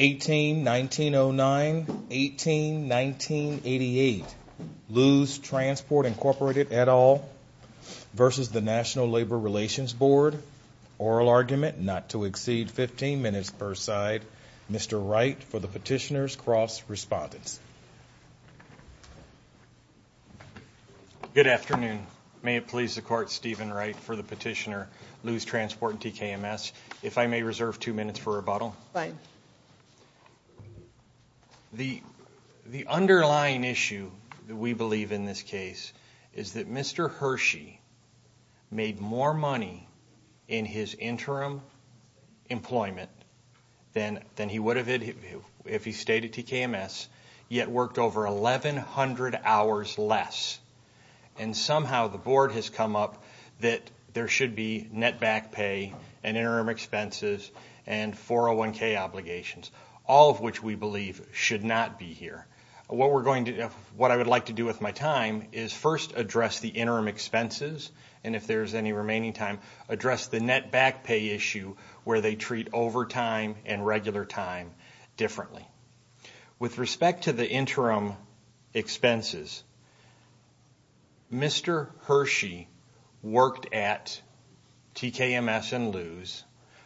18-1909, 18-1988, Lou's Transport Incorporated, et al. v. the National Labor Relations Board oral argument not to exceed 15 minutes per side. Mr. Wright for the petitioner's cross-respondence. Good afternoon. May it please the court, Steven Wright for the petitioner, Lou's Transport and TKMS. If I may reserve two minutes for rebuttal. The underlying issue that we believe in this case is that Mr. Hershey made more money in his interim employment than he would have if he stayed at TKMS yet worked over 1,100 hours less. And somehow the board has come up that there should be net back pay and interim expenses and 401k obligations, all of which we believe should not be here. What I would like to do with my time is first address the interim expenses and if there's any remaining time, address the net back pay issue where they treat overtime and regular time differently. With respect to the interim expenses, Mr. Hershey worked at TKMS and Lou's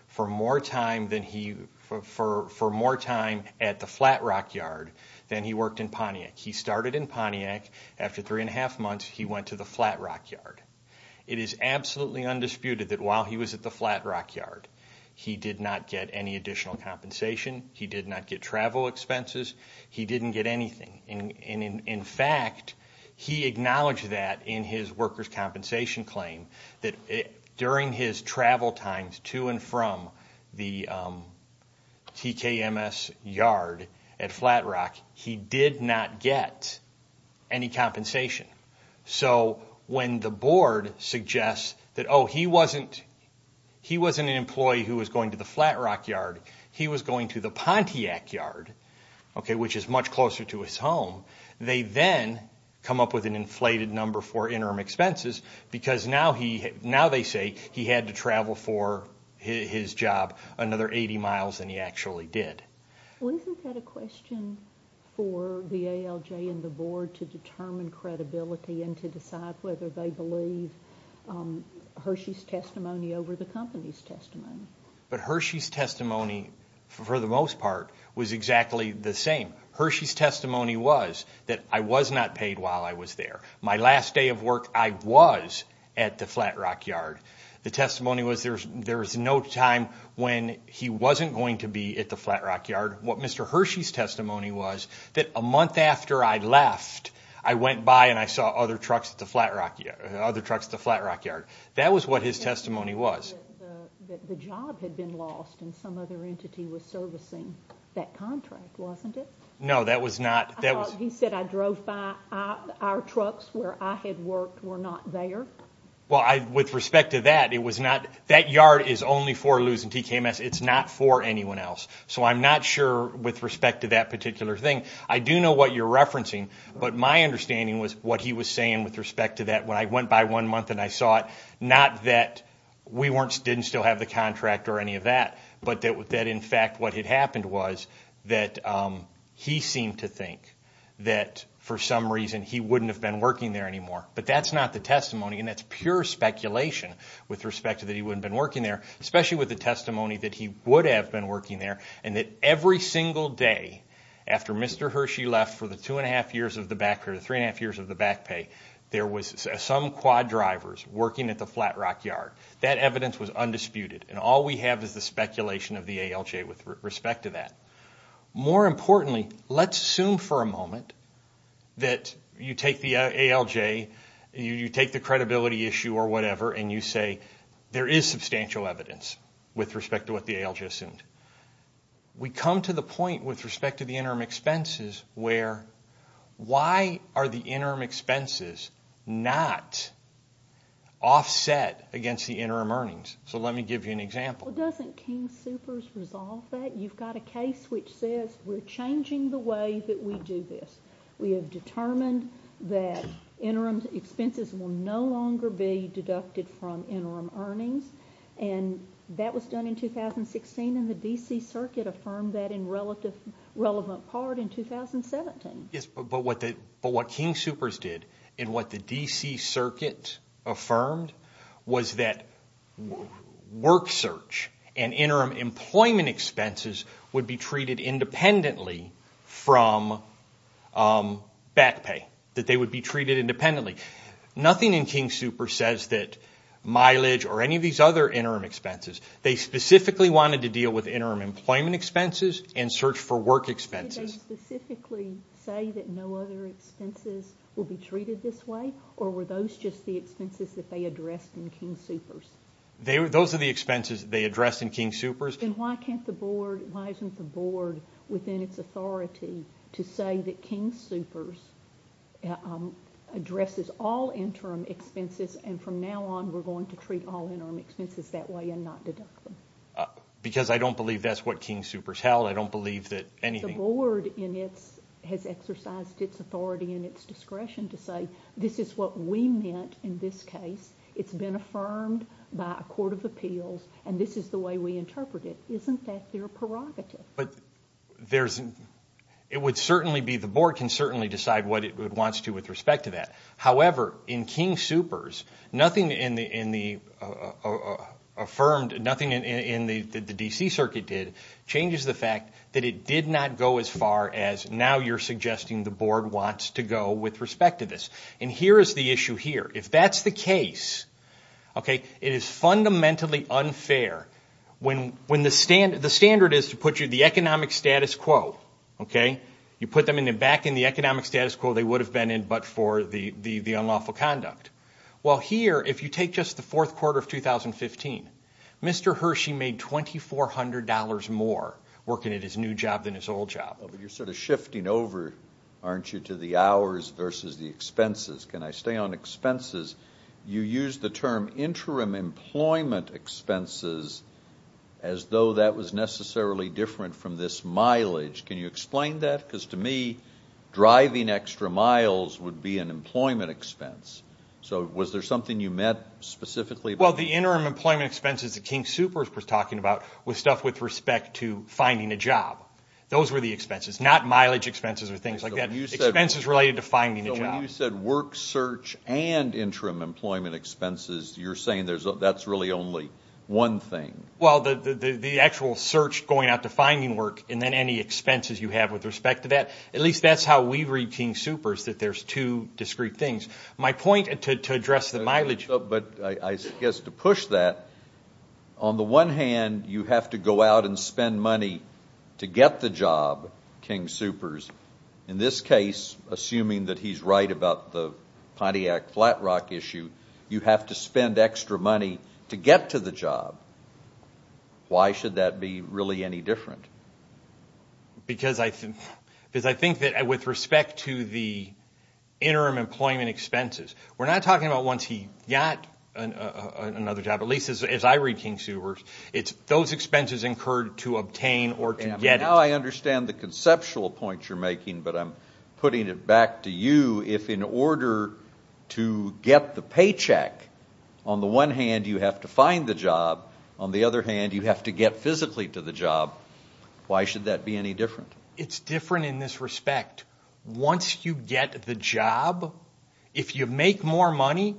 for more time than he, for more time at the Flat Rock Yard than he worked in Pontiac. He started in Pontiac. After three and a half months, he went to the Flat Rock Yard. It is absolutely undisputed that while he was at the Flat Rock Yard, he did not get any additional compensation. He did not get travel expenses. He didn't get anything. And in fact, he acknowledged that in his worker's compensation claim that during his travel times to and from the TKMS yard at Flat Rock, he did not get any compensation. So when the board suggests that, oh, he wasn't an employee who was going to the Flat Rock Yard, he was going to the Pontiac Yard, which is much closer to his home, they then come up with an inflated number for interim expenses because now they say he had to travel for his job another 80 miles than he actually did. Isn't that a question for the ALJ and the board to determine credibility and to decide whether they believe Hershey's testimony over the company's testimony? But Hershey's testimony, for the most part, was exactly the same. Hershey's testimony was that I was not paid while I was there. My last day of work, I was at the Flat Rock Yard. The testimony was there was no time when he wasn't going to be at the Flat Rock Yard. What Mr. Hershey's testimony was that a month after I left, I went by and I saw other trucks at the Flat Rock Yard. That was what his testimony was. The job had been lost and some other entity was servicing that contract, wasn't it? No, that was not. He said I drove by our trucks where I had worked were not there? Well, with respect to that, that yard is only for Luz and TKMS. It's not for anyone else. So I'm not sure with respect to that particular thing. I do know what you're referencing, but my understanding was what he was saying with respect to that when I went by one month and I saw it, not that we didn't still have the contract or any of that, but that in fact what had happened was that he seemed to think that for some reason he wouldn't have been working there anymore. But that's not the testimony and that's pure speculation with respect to that he wouldn't have been working there, especially with the testimony that he would have been working there and that every single day after Mr. Hershey left for the two and a half years of the back pay or the three and a half years of the back pay, there was some quad drivers working at the Flat Rock Yard. That evidence was undisputed and all we have is the speculation of the ALJ with respect to that. More importantly, let's assume for a moment that you take the ALJ, you take the credibility issue or whatever and you say there is substantial evidence with respect to what the ALJ assumed. We come to the point with respect to the interim expenses where why are the interim expenses not offset against the interim earnings? So let me give you an example. Well, doesn't King Soopers resolve that? You've got a case which says we're changing the way that we do this. We have determined that interim expenses will no longer be deducted from interim earnings and that was done in 2016 and the D.C. Circuit affirmed that in relevant part in 2017. But what King Soopers did and what the D.C. Circuit affirmed was that work search and interim employment expenses would be treated independently from back pay, that they would be treated independently. Nothing in King Soopers says that mileage or any of these other interim expenses. They specifically wanted to deal with interim employment expenses and search for work expenses. Did they specifically say that no other expenses will be treated this way or were those just the expenses that they addressed in King Soopers? Those are the expenses they addressed in King Soopers. Then why can't the board, why isn't the board within its authority to say that King Soopers addresses all interim expenses and from now on we're going to treat all interim expenses that way and not deduct them? Because I don't believe that's what King Soopers held. I don't believe that anything in the board has exercised its authority and its discretion to say this is what we meant in this case. It's been affirmed by a court of appeals and this is the way we interpret it. Isn't that their prerogative? It would certainly be, the board can certainly decide what it wants to with respect to that. However, in King Soopers, nothing in the affirmed, nothing in the D.C. Circuit did changes the did not go as far as now you're suggesting the board wants to go with respect to this. Here is the issue here. If that's the case, it is fundamentally unfair when the standard is to put you the economic status quo, you put them back in the economic status quo they would have been in but for the unlawful conduct. Well, here if you take just the fourth quarter of 2015, Mr. Hershey made $2,400 more working at his new job than his old job. You're sort of shifting over, aren't you, to the hours versus the expenses. Can I stay on expenses? You used the term interim employment expenses as though that was necessarily different from this mileage. Can you explain that? Because to me, driving extra miles would be an employment expense. So was there something you meant specifically? Well, the interim employment expenses that King Soopers was talking about was stuff with respect to finding a job. Those were the expenses, not mileage expenses or things like that. Expenses related to finding a job. So when you said work search and interim employment expenses, you're saying that's really only one thing. Well, the actual search going out to finding work and then any expenses you have with respect to that, at least that's how we read King Soopers, that there's two discrete things. My point to address the mileage But I guess to push that, on the one hand, you have to go out and spend money to get the job, King Soopers. In this case, assuming that he's right about the Pontiac Flat Rock issue, you have to spend extra money to get to the job. Why should that be really any different? Because I think that with respect to the interim employment expenses, we're not talking about once he got another job, at least as I read King Soopers. It's those expenses incurred to obtain or to get it. Now I understand the conceptual point you're making, but I'm putting it back to you. If in order to get the paycheck, on the one hand, you have to find the job. On the other hand, you have to get physically to the job. Why should that be any different? It's different in this respect. Once you get the job, if you make more money,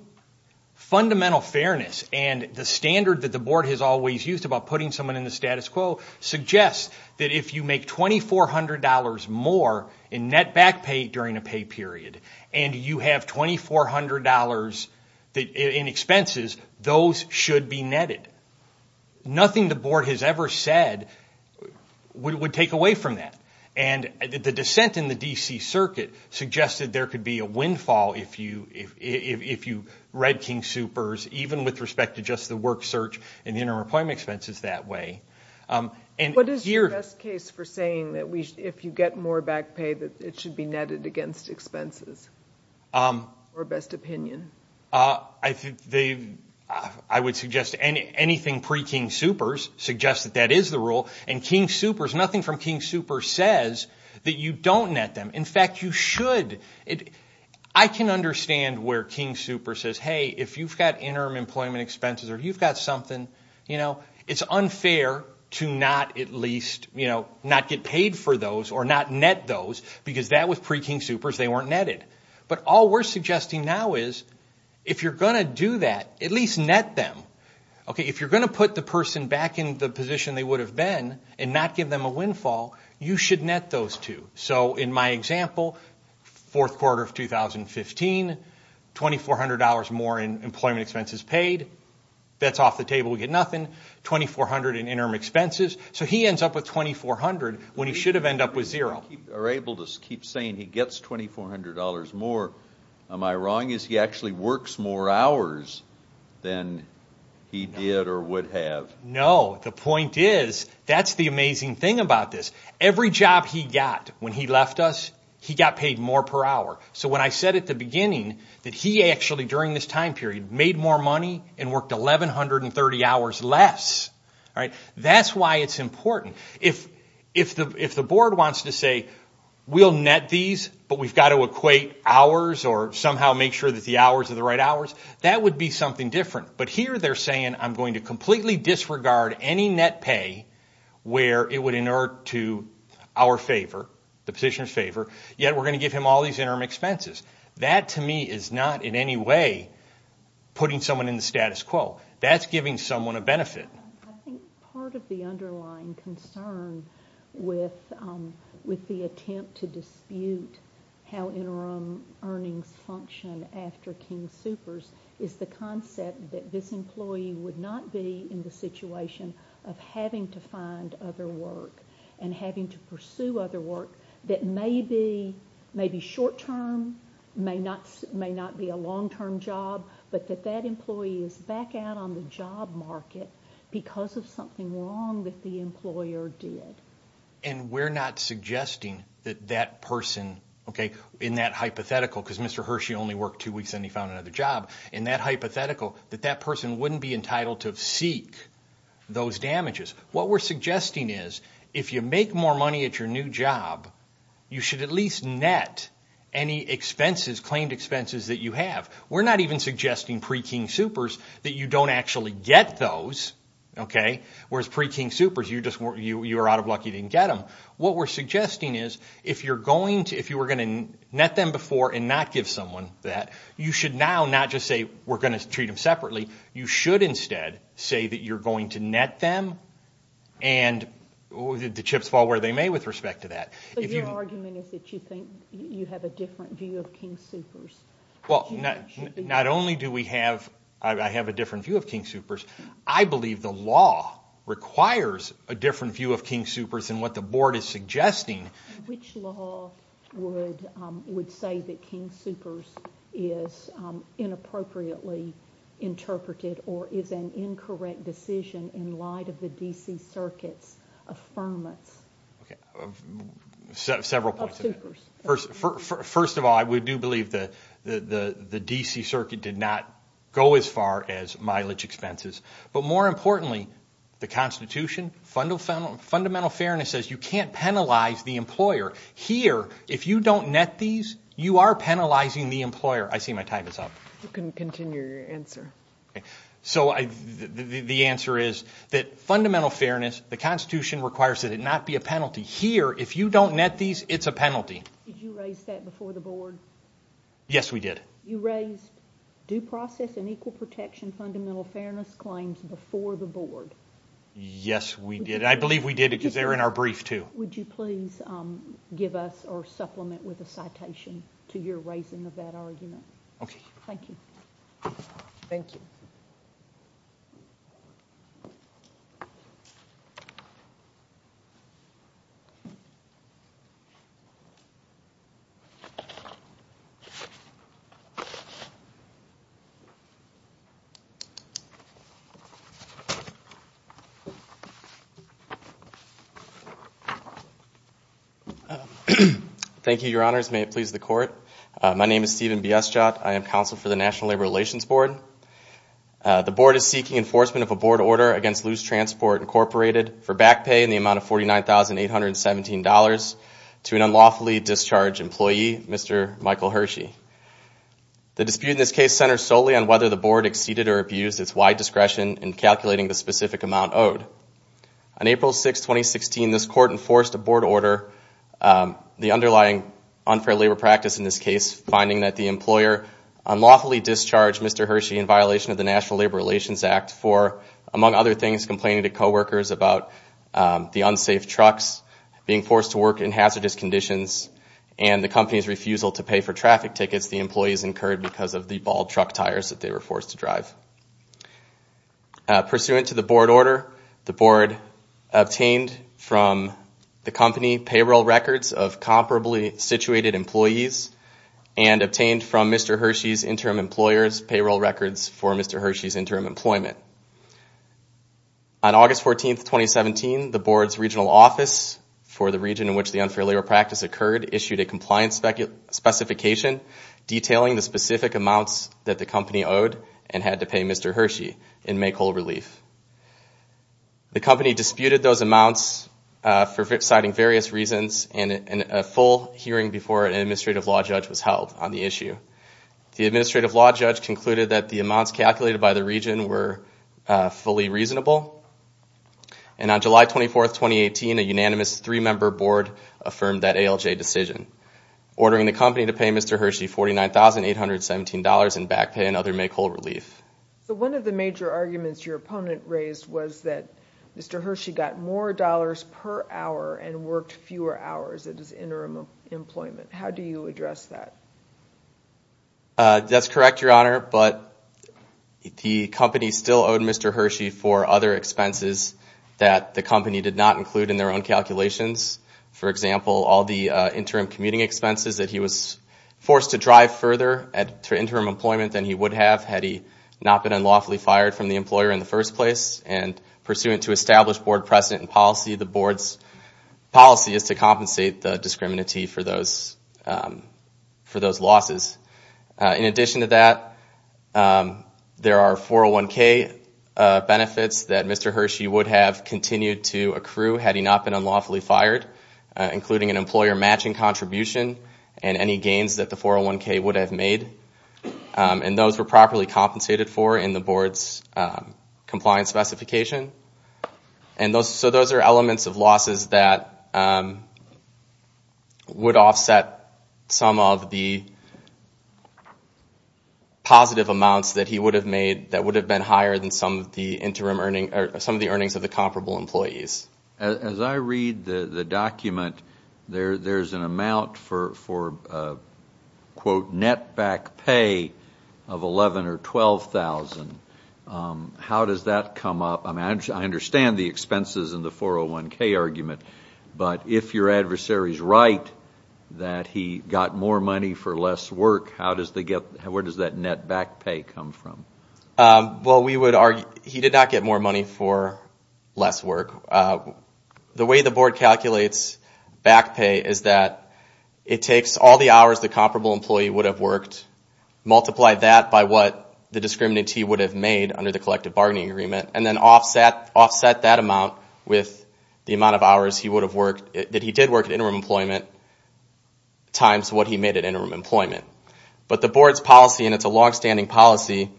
fundamental fairness and the standard that the board has always used about putting someone in the status quo suggests that if you make $2,400 more in net back pay during a pay period, and you have $2,400 in expenses, those should be netted. Nothing the board has ever said would take away from that. The dissent in the D.C. circuit suggested there could be a windfall if you read King Soopers, even with respect to just the work search and the interim employment expenses that way. What is the best case for saying that if you get more back pay, that it should be netted against expenses? Or best opinion? I would suggest anything pre-King Soopers suggests that that is the rule. King Soopers, nothing from King Soopers says that you don't net them. In fact, you should. I can understand where King Soopers says, hey, if you've got interim employment expenses or you've got something, it's unfair to not at least not get paid for those or not net those because that was pre-King Soopers, they weren't netted. But all we're suggesting now is if you're going to do that, at least net them. If you're going to net them a windfall, you should net those two. So in my example, fourth quarter of 2015, $2,400 more in employment expenses paid. That's off the table. We get nothing. $2,400 in interim expenses. So he ends up with $2,400 when he should have ended up with zero. You're able to keep saying he gets $2,400 more. Am I wrong? Is he actually works more hours than he did or would have? No. The point is that's the amazing thing about this. Every job he got when he left us, he got paid more per hour. So when I said at the beginning that he actually during this time period made more money and worked 1,130 hours less, that's why it's important. If the board wants to say we'll net these but we've got to equate hours or somehow make sure that the hours are the right hours, that would be something different. But here they're saying I'm going to completely disregard any net pay where it would inert to our favor, the position's favor, yet we're going to give him all these interim expenses. That to me is not in any way putting someone in the status quo. That's giving someone a benefit. I think part of the underlying concern with the attempt to dispute how interim earnings function after King Soopers is the concept that this employee would not be in the situation of having to find other work and having to pursue other work that may be short-term, may not be a long-term job, but that that employee is back out on the job market because of something wrong that the employer did. We're not suggesting that that person, in that hypothetical, because Mr. Hershey only worked two weeks and he found another job, in that hypothetical, that that person wouldn't be entitled to seek those damages. What we're suggesting is if you make more money at your new job, you should at least net any expenses, claimed expenses that you have. We're not even suggesting pre-King Soopers that you don't actually get those, whereas pre-King Soopers you're lucky you didn't get them. What we're suggesting is if you're going to, if you were going to net them before and not give someone that, you should now not just say we're going to treat them separately. You should instead say that you're going to net them and the chips fall where they may with respect to that. Your argument is that you think you have a different view of King Soopers. Not only do I have a different view of King Soopers, I believe the law requires a different view of King Soopers and what the board is suggesting. Which law would say that King Soopers is inappropriately interpreted or is an incorrect decision in light of the D.C. Circuit's affirmance of Soopers? First of all, I do believe that the D.C. Circuit did not go as far as mileage expenses, but more importantly, the Constitution, fundamental fairness says you can't penalize the employer. Here, if you don't net these, you are penalizing the employer. I see my time is up. You can continue your answer. So the answer is that fundamental fairness, the Constitution requires that it not be a penalty. Here, if you don't net these, it's a penalty. Did you raise that before the board? Yes, we did. You raised due process and equal protection fundamental fairness claims before the board. Yes, we did. I believe we did because they were in our brief, too. Would you please give us or supplement with a citation to your raising of that argument? Okay. Thank you. Thank you. Thank you, your honors. May it please the court. My name is Stephen Biestjot. I am counsel for the National Labor Relations Board. The board is seeking enforcement of a board order against Loose Transport Incorporated for back pay in the amount of $49,817 to an unlawfully discharged employee, Mr. Michael Hershey. The dispute in this case centers solely on whether the board exceeded or abused its wide discretion in calculating the specific amount owed. On April 6, 2016, this court enforced a board order, the underlying unfair labor practice in this case, finding that the employer unlawfully discharged Mr. Hershey in violation of the National Labor Relations Act for, among other things, complaining to co-workers about the unsafe trucks, being forced to work in hazardous conditions, and the company's refusal to pay for traffic tickets the employees incurred because of the bald truck tires that they were forced to drive. Pursuant to the board order, the board obtained from the company payroll records of comparably situated employees and obtained from Mr. Hershey's interim employers payroll records for Mr. Hershey's interim employment. On August 14, 2017, the board's regional office for the region in which the unfair labor practice occurred issued a compliance specification detailing the specific amounts that the company owed and had to pay Mr. Hershey in make whole relief. The company disputed those amounts for citing various reasons and a full hearing before an administrative law judge was held on the issue. The administrative law judge concluded that the amounts calculated by the region were fully reasonable. On July 24, 2018, a unanimous three-member board affirmed that ALJ decision, ordering the company to pay Mr. Hershey $49,817 in back pay and other make whole relief. One of the major arguments your opponent raised was that Mr. Hershey got more dollars per hour and worked fewer hours at his interim employment. How do you address that? That's correct, Your Honor, but the company still owed Mr. Hershey for other expenses that the company did not include in their own calculations. For example, all the interim commuting expenses that he was forced to drive further at interim employment than he would have had he not been unlawfully fired from the employer in the first place. Pursuant to established board precedent and policy, the board's policy is to compensate the discriminative for those losses. In addition to that, there are 401k benefits that Mr. Hershey would have continued to accrue had he not been unlawfully fired, including an employer matching contribution and any gains that the 401k would have made. Those were properly compensated for in the board's compliance specification. Those are elements of losses that would offset some of the positive amounts that he would have made that would have been higher than some of the earnings of the comparable employees. As I read the document, there's an amount for, quote, net back pay of $11,000 or $12,000. How does that come up? I understand the expenses in the 401k argument, but if your adversary is right that he got more money for less work, where does that net back pay come from? Well, he did not get more money for less work. The way the board calculates back pay is that it takes all the hours the comparable employee would have worked, multiply that by what the discriminantee would have made under the collective bargaining agreement, and then offset that amount with the amount of hours that he did work at interim employment times what he made at interim employment. But the board's policy, and it's a longstanding policy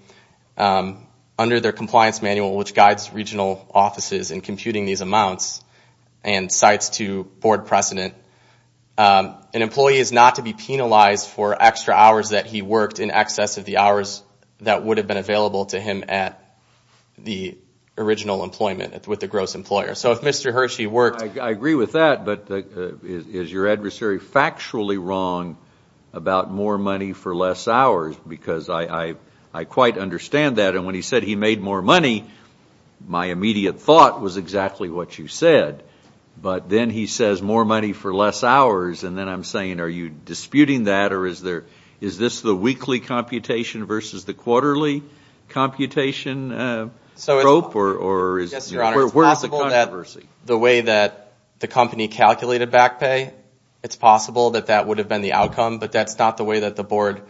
under their compliance manual which guides regional offices in computing these amounts and cites to board precedent, an employee is not to be penalized for extra hours that he worked in excess of the hours that would have been available to him at the original employment with the gross employer. So if Mr. Hershey worked... I agree with that, but is your adversary factually wrong about more money for less hours? Because I quite understand that, and when he said he made more money, my immediate thought was exactly what you said. But then he says more money for less hours, and then I'm saying are you disputing that, or is this the weekly computation versus the quarterly computation? So it's possible that the way that the company calculated back pay, it's possible that that would have been the outcome, but that's not the way that the board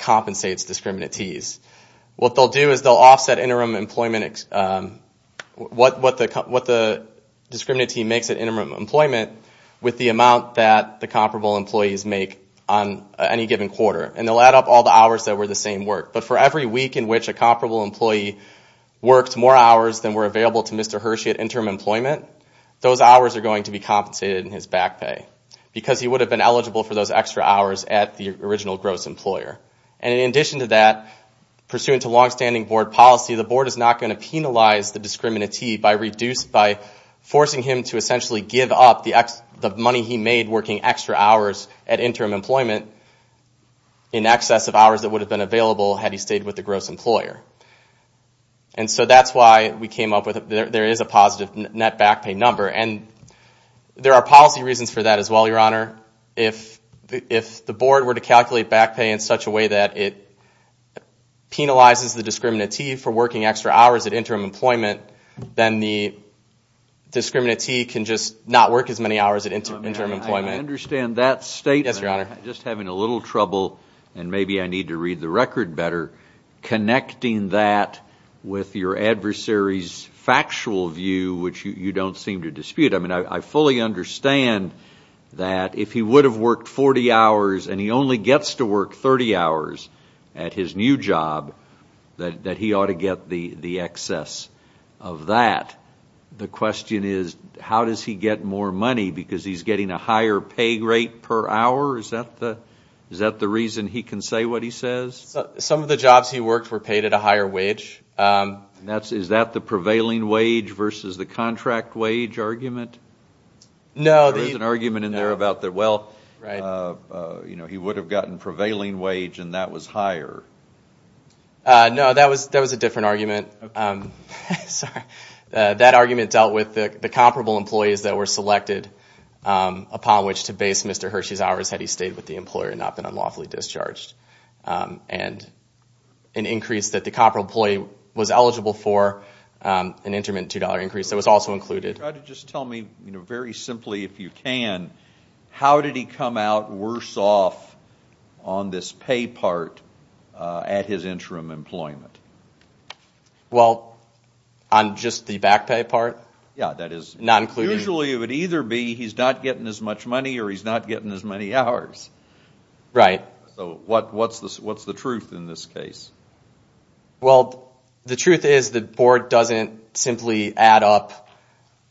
compensates discriminantees. What they'll do is they'll offset what the discriminantee makes at interim employment with the amount that the comparable employees make on any given quarter, and they'll add up all the hours that were the same work. But for every week in which a comparable employee worked more hours than were available to Mr. Hershey at interim employment, those hours are going to be compensated in his back pay because he would have been eligible for those extra hours at the original gross employer. And in addition to that, pursuant to longstanding board policy, the board is not going to penalize the discriminantee by forcing him to essentially give up the money he made working extra hours at interim employment in excess of hours that would have been available had he stayed with the gross employer. And so that's why there is a positive net back pay number, and there are policy reasons for that as well, Your Honor. If the board were to calculate back pay in such a way that it penalizes the discriminantee for working extra hours at interim employment, then the discriminantee can just not work as many hours at interim employment. I understand that statement. Yes, Your Honor. I'm just having a little trouble, and maybe I need to read the record better, connecting that with your adversary's factual view, which you don't seem to dispute. I mean, I fully understand that if he would have worked 40 hours and he only gets to work 30 hours at his new job, that he ought to get the excess of that. The question is, how does he get more money? Because he's getting a higher pay rate per hour? Is that the reason he can say what he says? Some of the jobs he worked were paid at a higher wage. Is that the prevailing wage versus the contract wage argument? No. There is an argument in there about that. Well, he would have gotten prevailing wage, and that was higher. No, that was a different argument. Sorry. That argument dealt with the comparable employees that were selected upon which to base Mr. Hershey's hours had he stayed with the employer and not been unlawfully discharged. And an increase that the comparable employee was eligible for, an intermittent $2 increase, that was also included. Try to just tell me very simply, if you can, how did he come out worse off on this pay part at his interim employment? Well, on just the back pay part? Yeah, that is usually it would either be he's not getting as much money or he's not getting as many hours. Right. So what's the truth in this case? Well, the truth is the board doesn't simply add up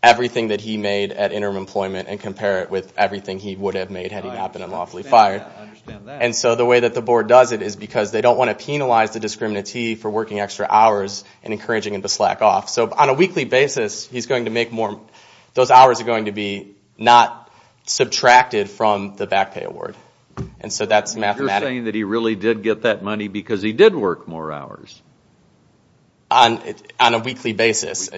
everything that he made at interim employment and compare it with everything he would have made had he not been unlawfully fired. I understand that. And so the way that the board does it is because they don't want to penalize the discriminantee for working extra hours and encouraging him to slack off. So on a weekly basis, those hours are going to be not subtracted from the back pay award. You're saying that he really did get that money because he did work more hours? On a weekly basis.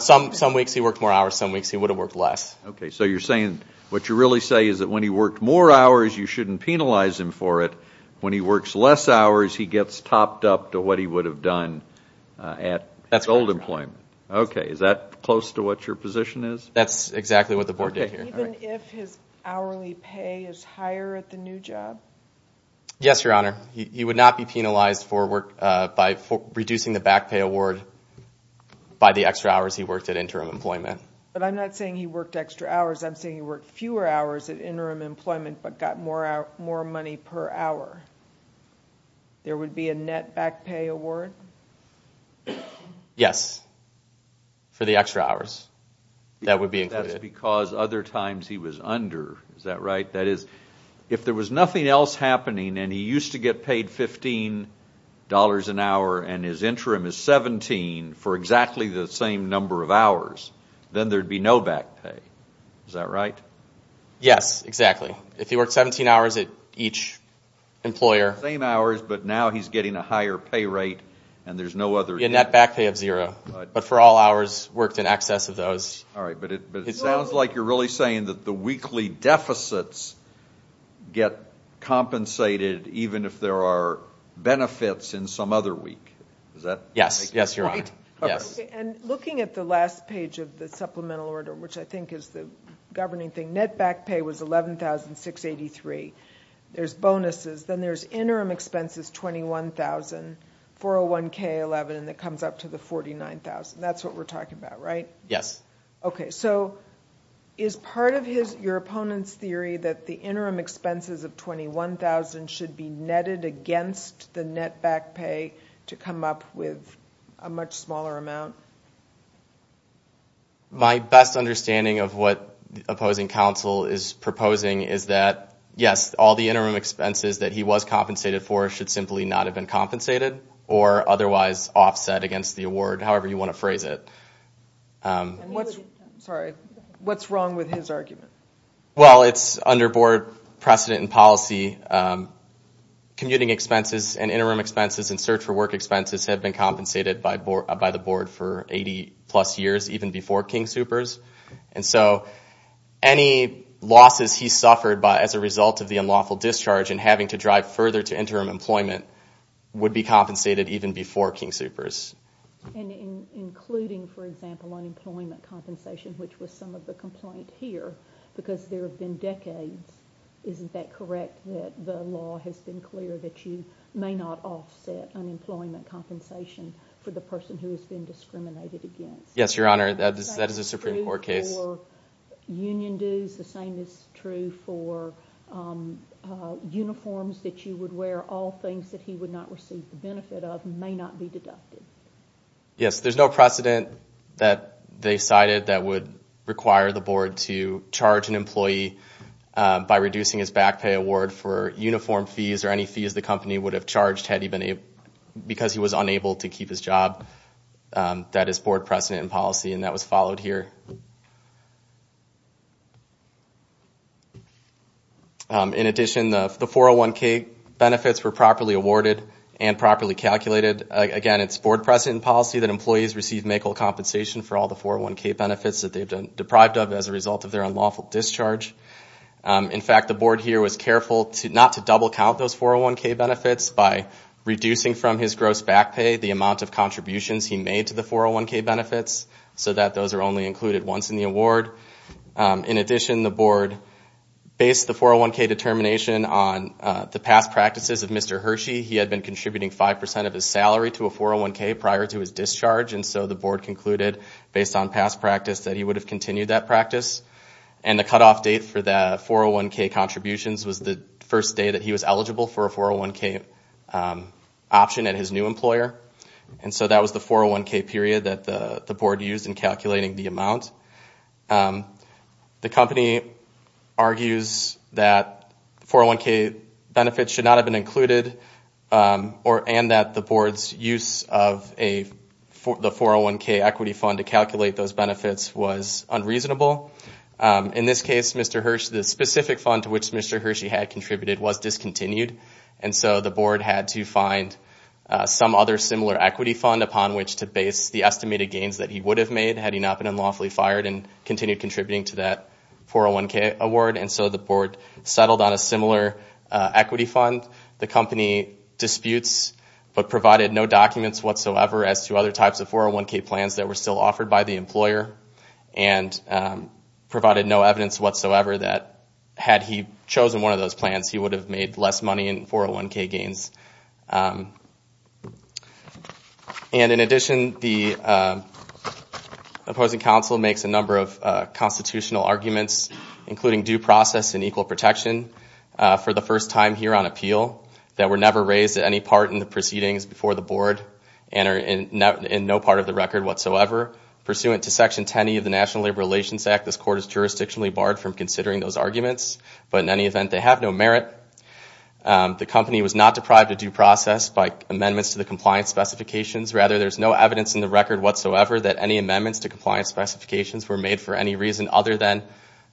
Some weeks he worked more hours, some weeks he would have worked less. Okay. So you're saying what you really say is that when he worked more hours, you shouldn't penalize him for it. When he works less hours, he gets topped up to what he would have done at his old employment. Okay. Is that close to what your position is? That's exactly what the board did here. Even if his hourly pay is higher at the new job? Yes, Your Honor. He would not be penalized by reducing the back pay award by the extra hours he worked at interim employment. But I'm not saying he worked extra hours. I'm saying he worked fewer hours at interim employment but got more money per hour. There would be a net back pay award? Yes, for the extra hours. That would be included. Because other times he was under, is that right? That is, if there was nothing else happening and he used to get paid $15 an hour and his interim is $17 for exactly the same number of hours, then there would be no back pay. Is that right? Yes, exactly. If he worked 17 hours at each employer. Same hours, but now he's getting a higher pay rate and there's no other. A net back pay of zero, but for all hours worked in excess of those. All right, but it sounds like you're really saying that the weekly deficits get compensated even if there are benefits in some other week. Is that right? Yes, Your Honor. And looking at the last page of the supplemental order, which I think is the governing thing, net back pay was $11,683. There's bonuses. Then there's interim expenses, $21,000, 401K, 11, and that comes up to the $49,000. That's what we're talking about, right? Yes. Okay, so is part of your opponent's theory that the interim expenses of $21,000 should be netted against the net back pay to come up with a much smaller amount? My best understanding of what opposing counsel is proposing is that, yes, all the interim expenses that he was compensated for should simply not have been compensated or otherwise offset against the award, however you want to phrase it. Sorry, what's wrong with his argument? Well, it's under board precedent and policy. Commuting expenses and interim expenses and search for work expenses have been compensated by the board for 80-plus years, even before King Soopers. And so any losses he suffered as a result of the unlawful discharge and having to drive further to interim employment would be compensated even before King Soopers. And including, for example, unemployment compensation, which was some of the complaint here, because there have been decades, isn't that correct that the law has been clear that you may not offset unemployment compensation for the person who has been discriminated against? Yes, Your Honor, that is a Supreme Court case. The same is true for union dues. The same is true for uniforms that you would wear. All things that he would not receive the benefit of may not be deducted. Yes, there's no precedent that they cited that would require the board to charge an employee by reducing his back pay award for uniform fees or any fees the company would have charged because he was unable to keep his job. That is board precedent and policy, and that was followed here. In addition, the 401k benefits were properly awarded and properly calculated. Again, it's board precedent and policy that employees receive make-all compensation for all the 401k benefits that they've been deprived of as a result of their unlawful discharge. In fact, the board here was careful not to double-count those 401k benefits by reducing from his gross back pay the amount of contributions he made to the 401k benefits so that those are only included once in the award. In addition, the board based the 401k determination on the past practices of Mr. Hershey. He had been contributing 5% of his salary to a 401k prior to his discharge, and so the board concluded, based on past practice, that he would have continued that practice. The cutoff date for the 401k contributions was the first day that he was eligible for a 401k option at his new employer. That was the 401k period that the board used in calculating the amount. The company argues that 401k benefits should not have been included and that the board's use of the 401k equity fund to calculate those benefits was unreasonable. In this case, the specific fund to which Mr. Hershey had contributed was discontinued, and so the board had to find some other similar equity fund upon which to base the estimated gains that he would have made had he not been unlawfully fired and continued contributing to that 401k award. And so the board settled on a similar equity fund. The company disputes but provided no documents whatsoever as to other types of 401k plans that were still offered by the employer. And provided no evidence whatsoever that had he chosen one of those plans, he would have made less money in 401k gains. In addition, the opposing counsel makes a number of constitutional arguments, including due process and equal protection, for the first time here on appeal that were never raised at any part in the proceedings before the board and are in no part of the record whatsoever. Pursuant to Section 10E of the National Labor Relations Act, this court is jurisdictionally barred from considering those arguments, but in any event, they have no merit. The company was not deprived of due process by amendments to the compliance specifications. Rather, there's no evidence in the record whatsoever that any amendments to compliance specifications were made for any reason other than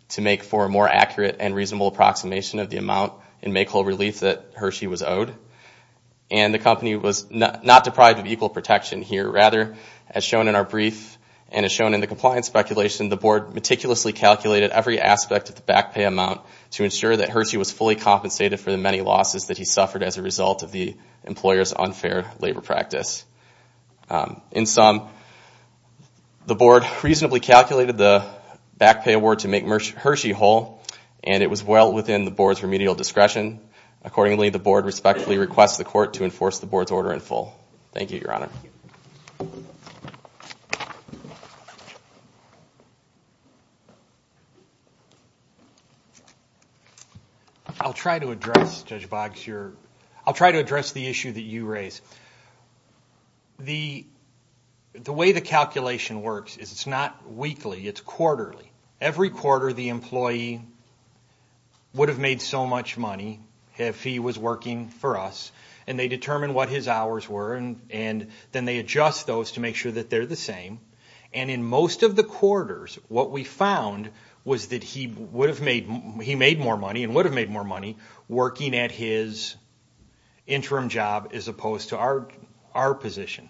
to make for a more accurate and reasonable approximation of the amount and make whole relief that Hershey was owed. And the company was not deprived of equal protection here. Rather, as shown in our brief and as shown in the compliance speculation, the board meticulously calculated every aspect of the back pay amount to ensure that Hershey was fully compensated for the many losses that he suffered as a result of the employer's unfair labor practice. In sum, the board reasonably calculated the back pay award to make Hershey whole, and it was well within the board's remedial discretion. Accordingly, the board respectfully requests the court to enforce the board's order in full. Thank you, Your Honor. I'll try to address, Judge Boggs, I'll try to address the issue that you raised. The way the calculation works is it's not weekly, it's quarterly. Every quarter the employee would have made so much money if he was working for us, and they determine what his hours were, and then they adjust those to make sure that they're the same. And in most of the quarters, what we found was that he made more money and would have made more money working at his interim job as opposed to our position.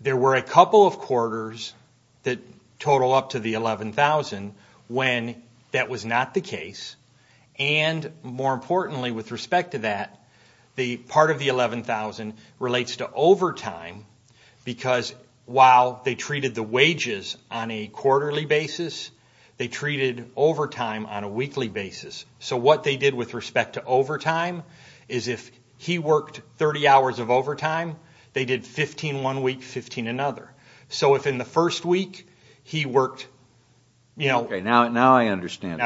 There were a couple of quarters that total up to the $11,000 when that was not the case. And more importantly with respect to that, part of the $11,000 relates to overtime because while they treated the wages on a quarterly basis, they treated overtime on a weekly basis. So what they did with respect to overtime is if he worked 30 hours of overtime, they did 15 one week, 15 another. So if in the first week he worked, you know... Okay, now I understand.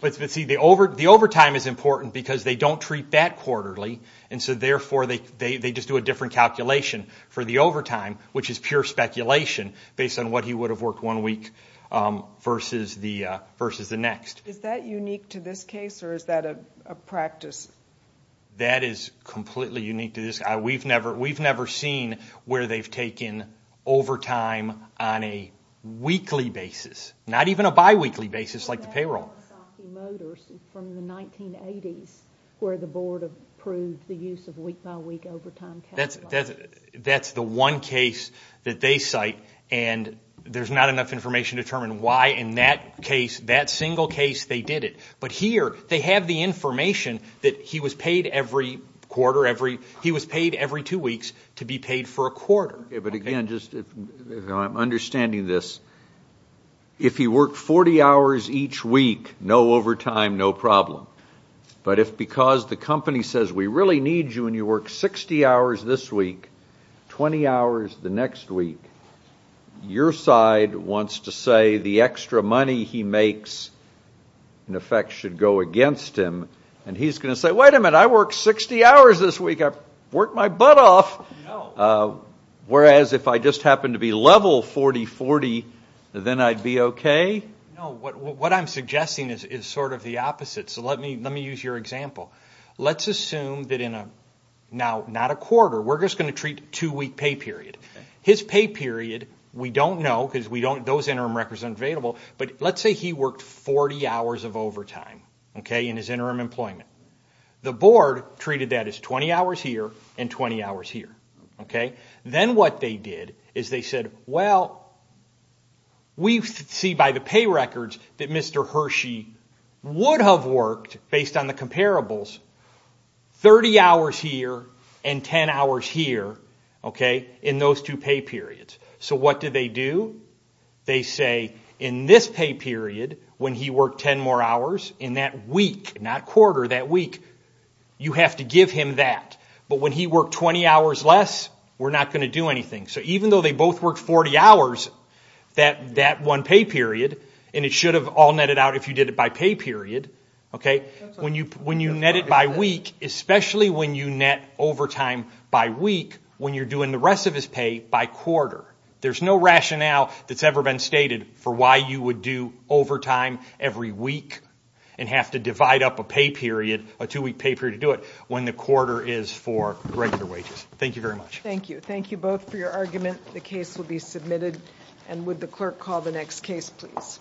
But see, the overtime is important because they don't treat that quarterly, and so therefore they just do a different calculation for the overtime, which is pure speculation based on what he would have worked one week versus the next. Is that unique to this case or is that a practice? That is completely unique to this. We've never seen where they've taken overtime on a weekly basis, not even a bi-weekly basis like the payroll. That's the one case that they cite, and there's not enough information to determine why in that case, that single case, they did it. But here they have the information that he was paid every quarter, he was paid every two weeks to be paid for a quarter. I'm understanding this. If he worked 40 hours each week, no overtime, no problem. But if because the company says we really need you and you work 60 hours this week, 20 hours the next week, your side wants to say the extra money he makes, in effect, should go against him, and he's going to say, wait a minute, I worked 60 hours this week. I worked my butt off. Whereas if I just happened to be level 40-40, then I'd be okay? No, what I'm suggesting is sort of the opposite. So let me use your example. Let's assume that in a quarter, we're just going to treat a two-week pay period. His pay period, we don't know because those interim records are unavailable, but let's say he worked 40 hours of overtime in his interim employment. The board treated that as 20 hours here and 20 hours here. Then what they did is they said, well, we see by the pay records that Mr. Hershey would have worked, based on the comparables, 30 hours here and 10 hours here in those two pay periods. So what did they do? They say in this pay period, when he worked 10 more hours in that week, not quarter, that week, you have to give him that. But when he worked 20 hours less, we're not going to do anything. So even though they both worked 40 hours that one pay period, and it should have all netted out if you did it by pay period, when you net it by week, especially when you net overtime by week, when you're doing the rest of his pay by quarter, there's no rationale that's ever been stated for why you would do overtime every week and have to divide up a two-week pay period to do it when the quarter is for regular wages. Thank you very much. Thank you. Thank you both for your argument. The case will be submitted. Would the clerk call the next case, please?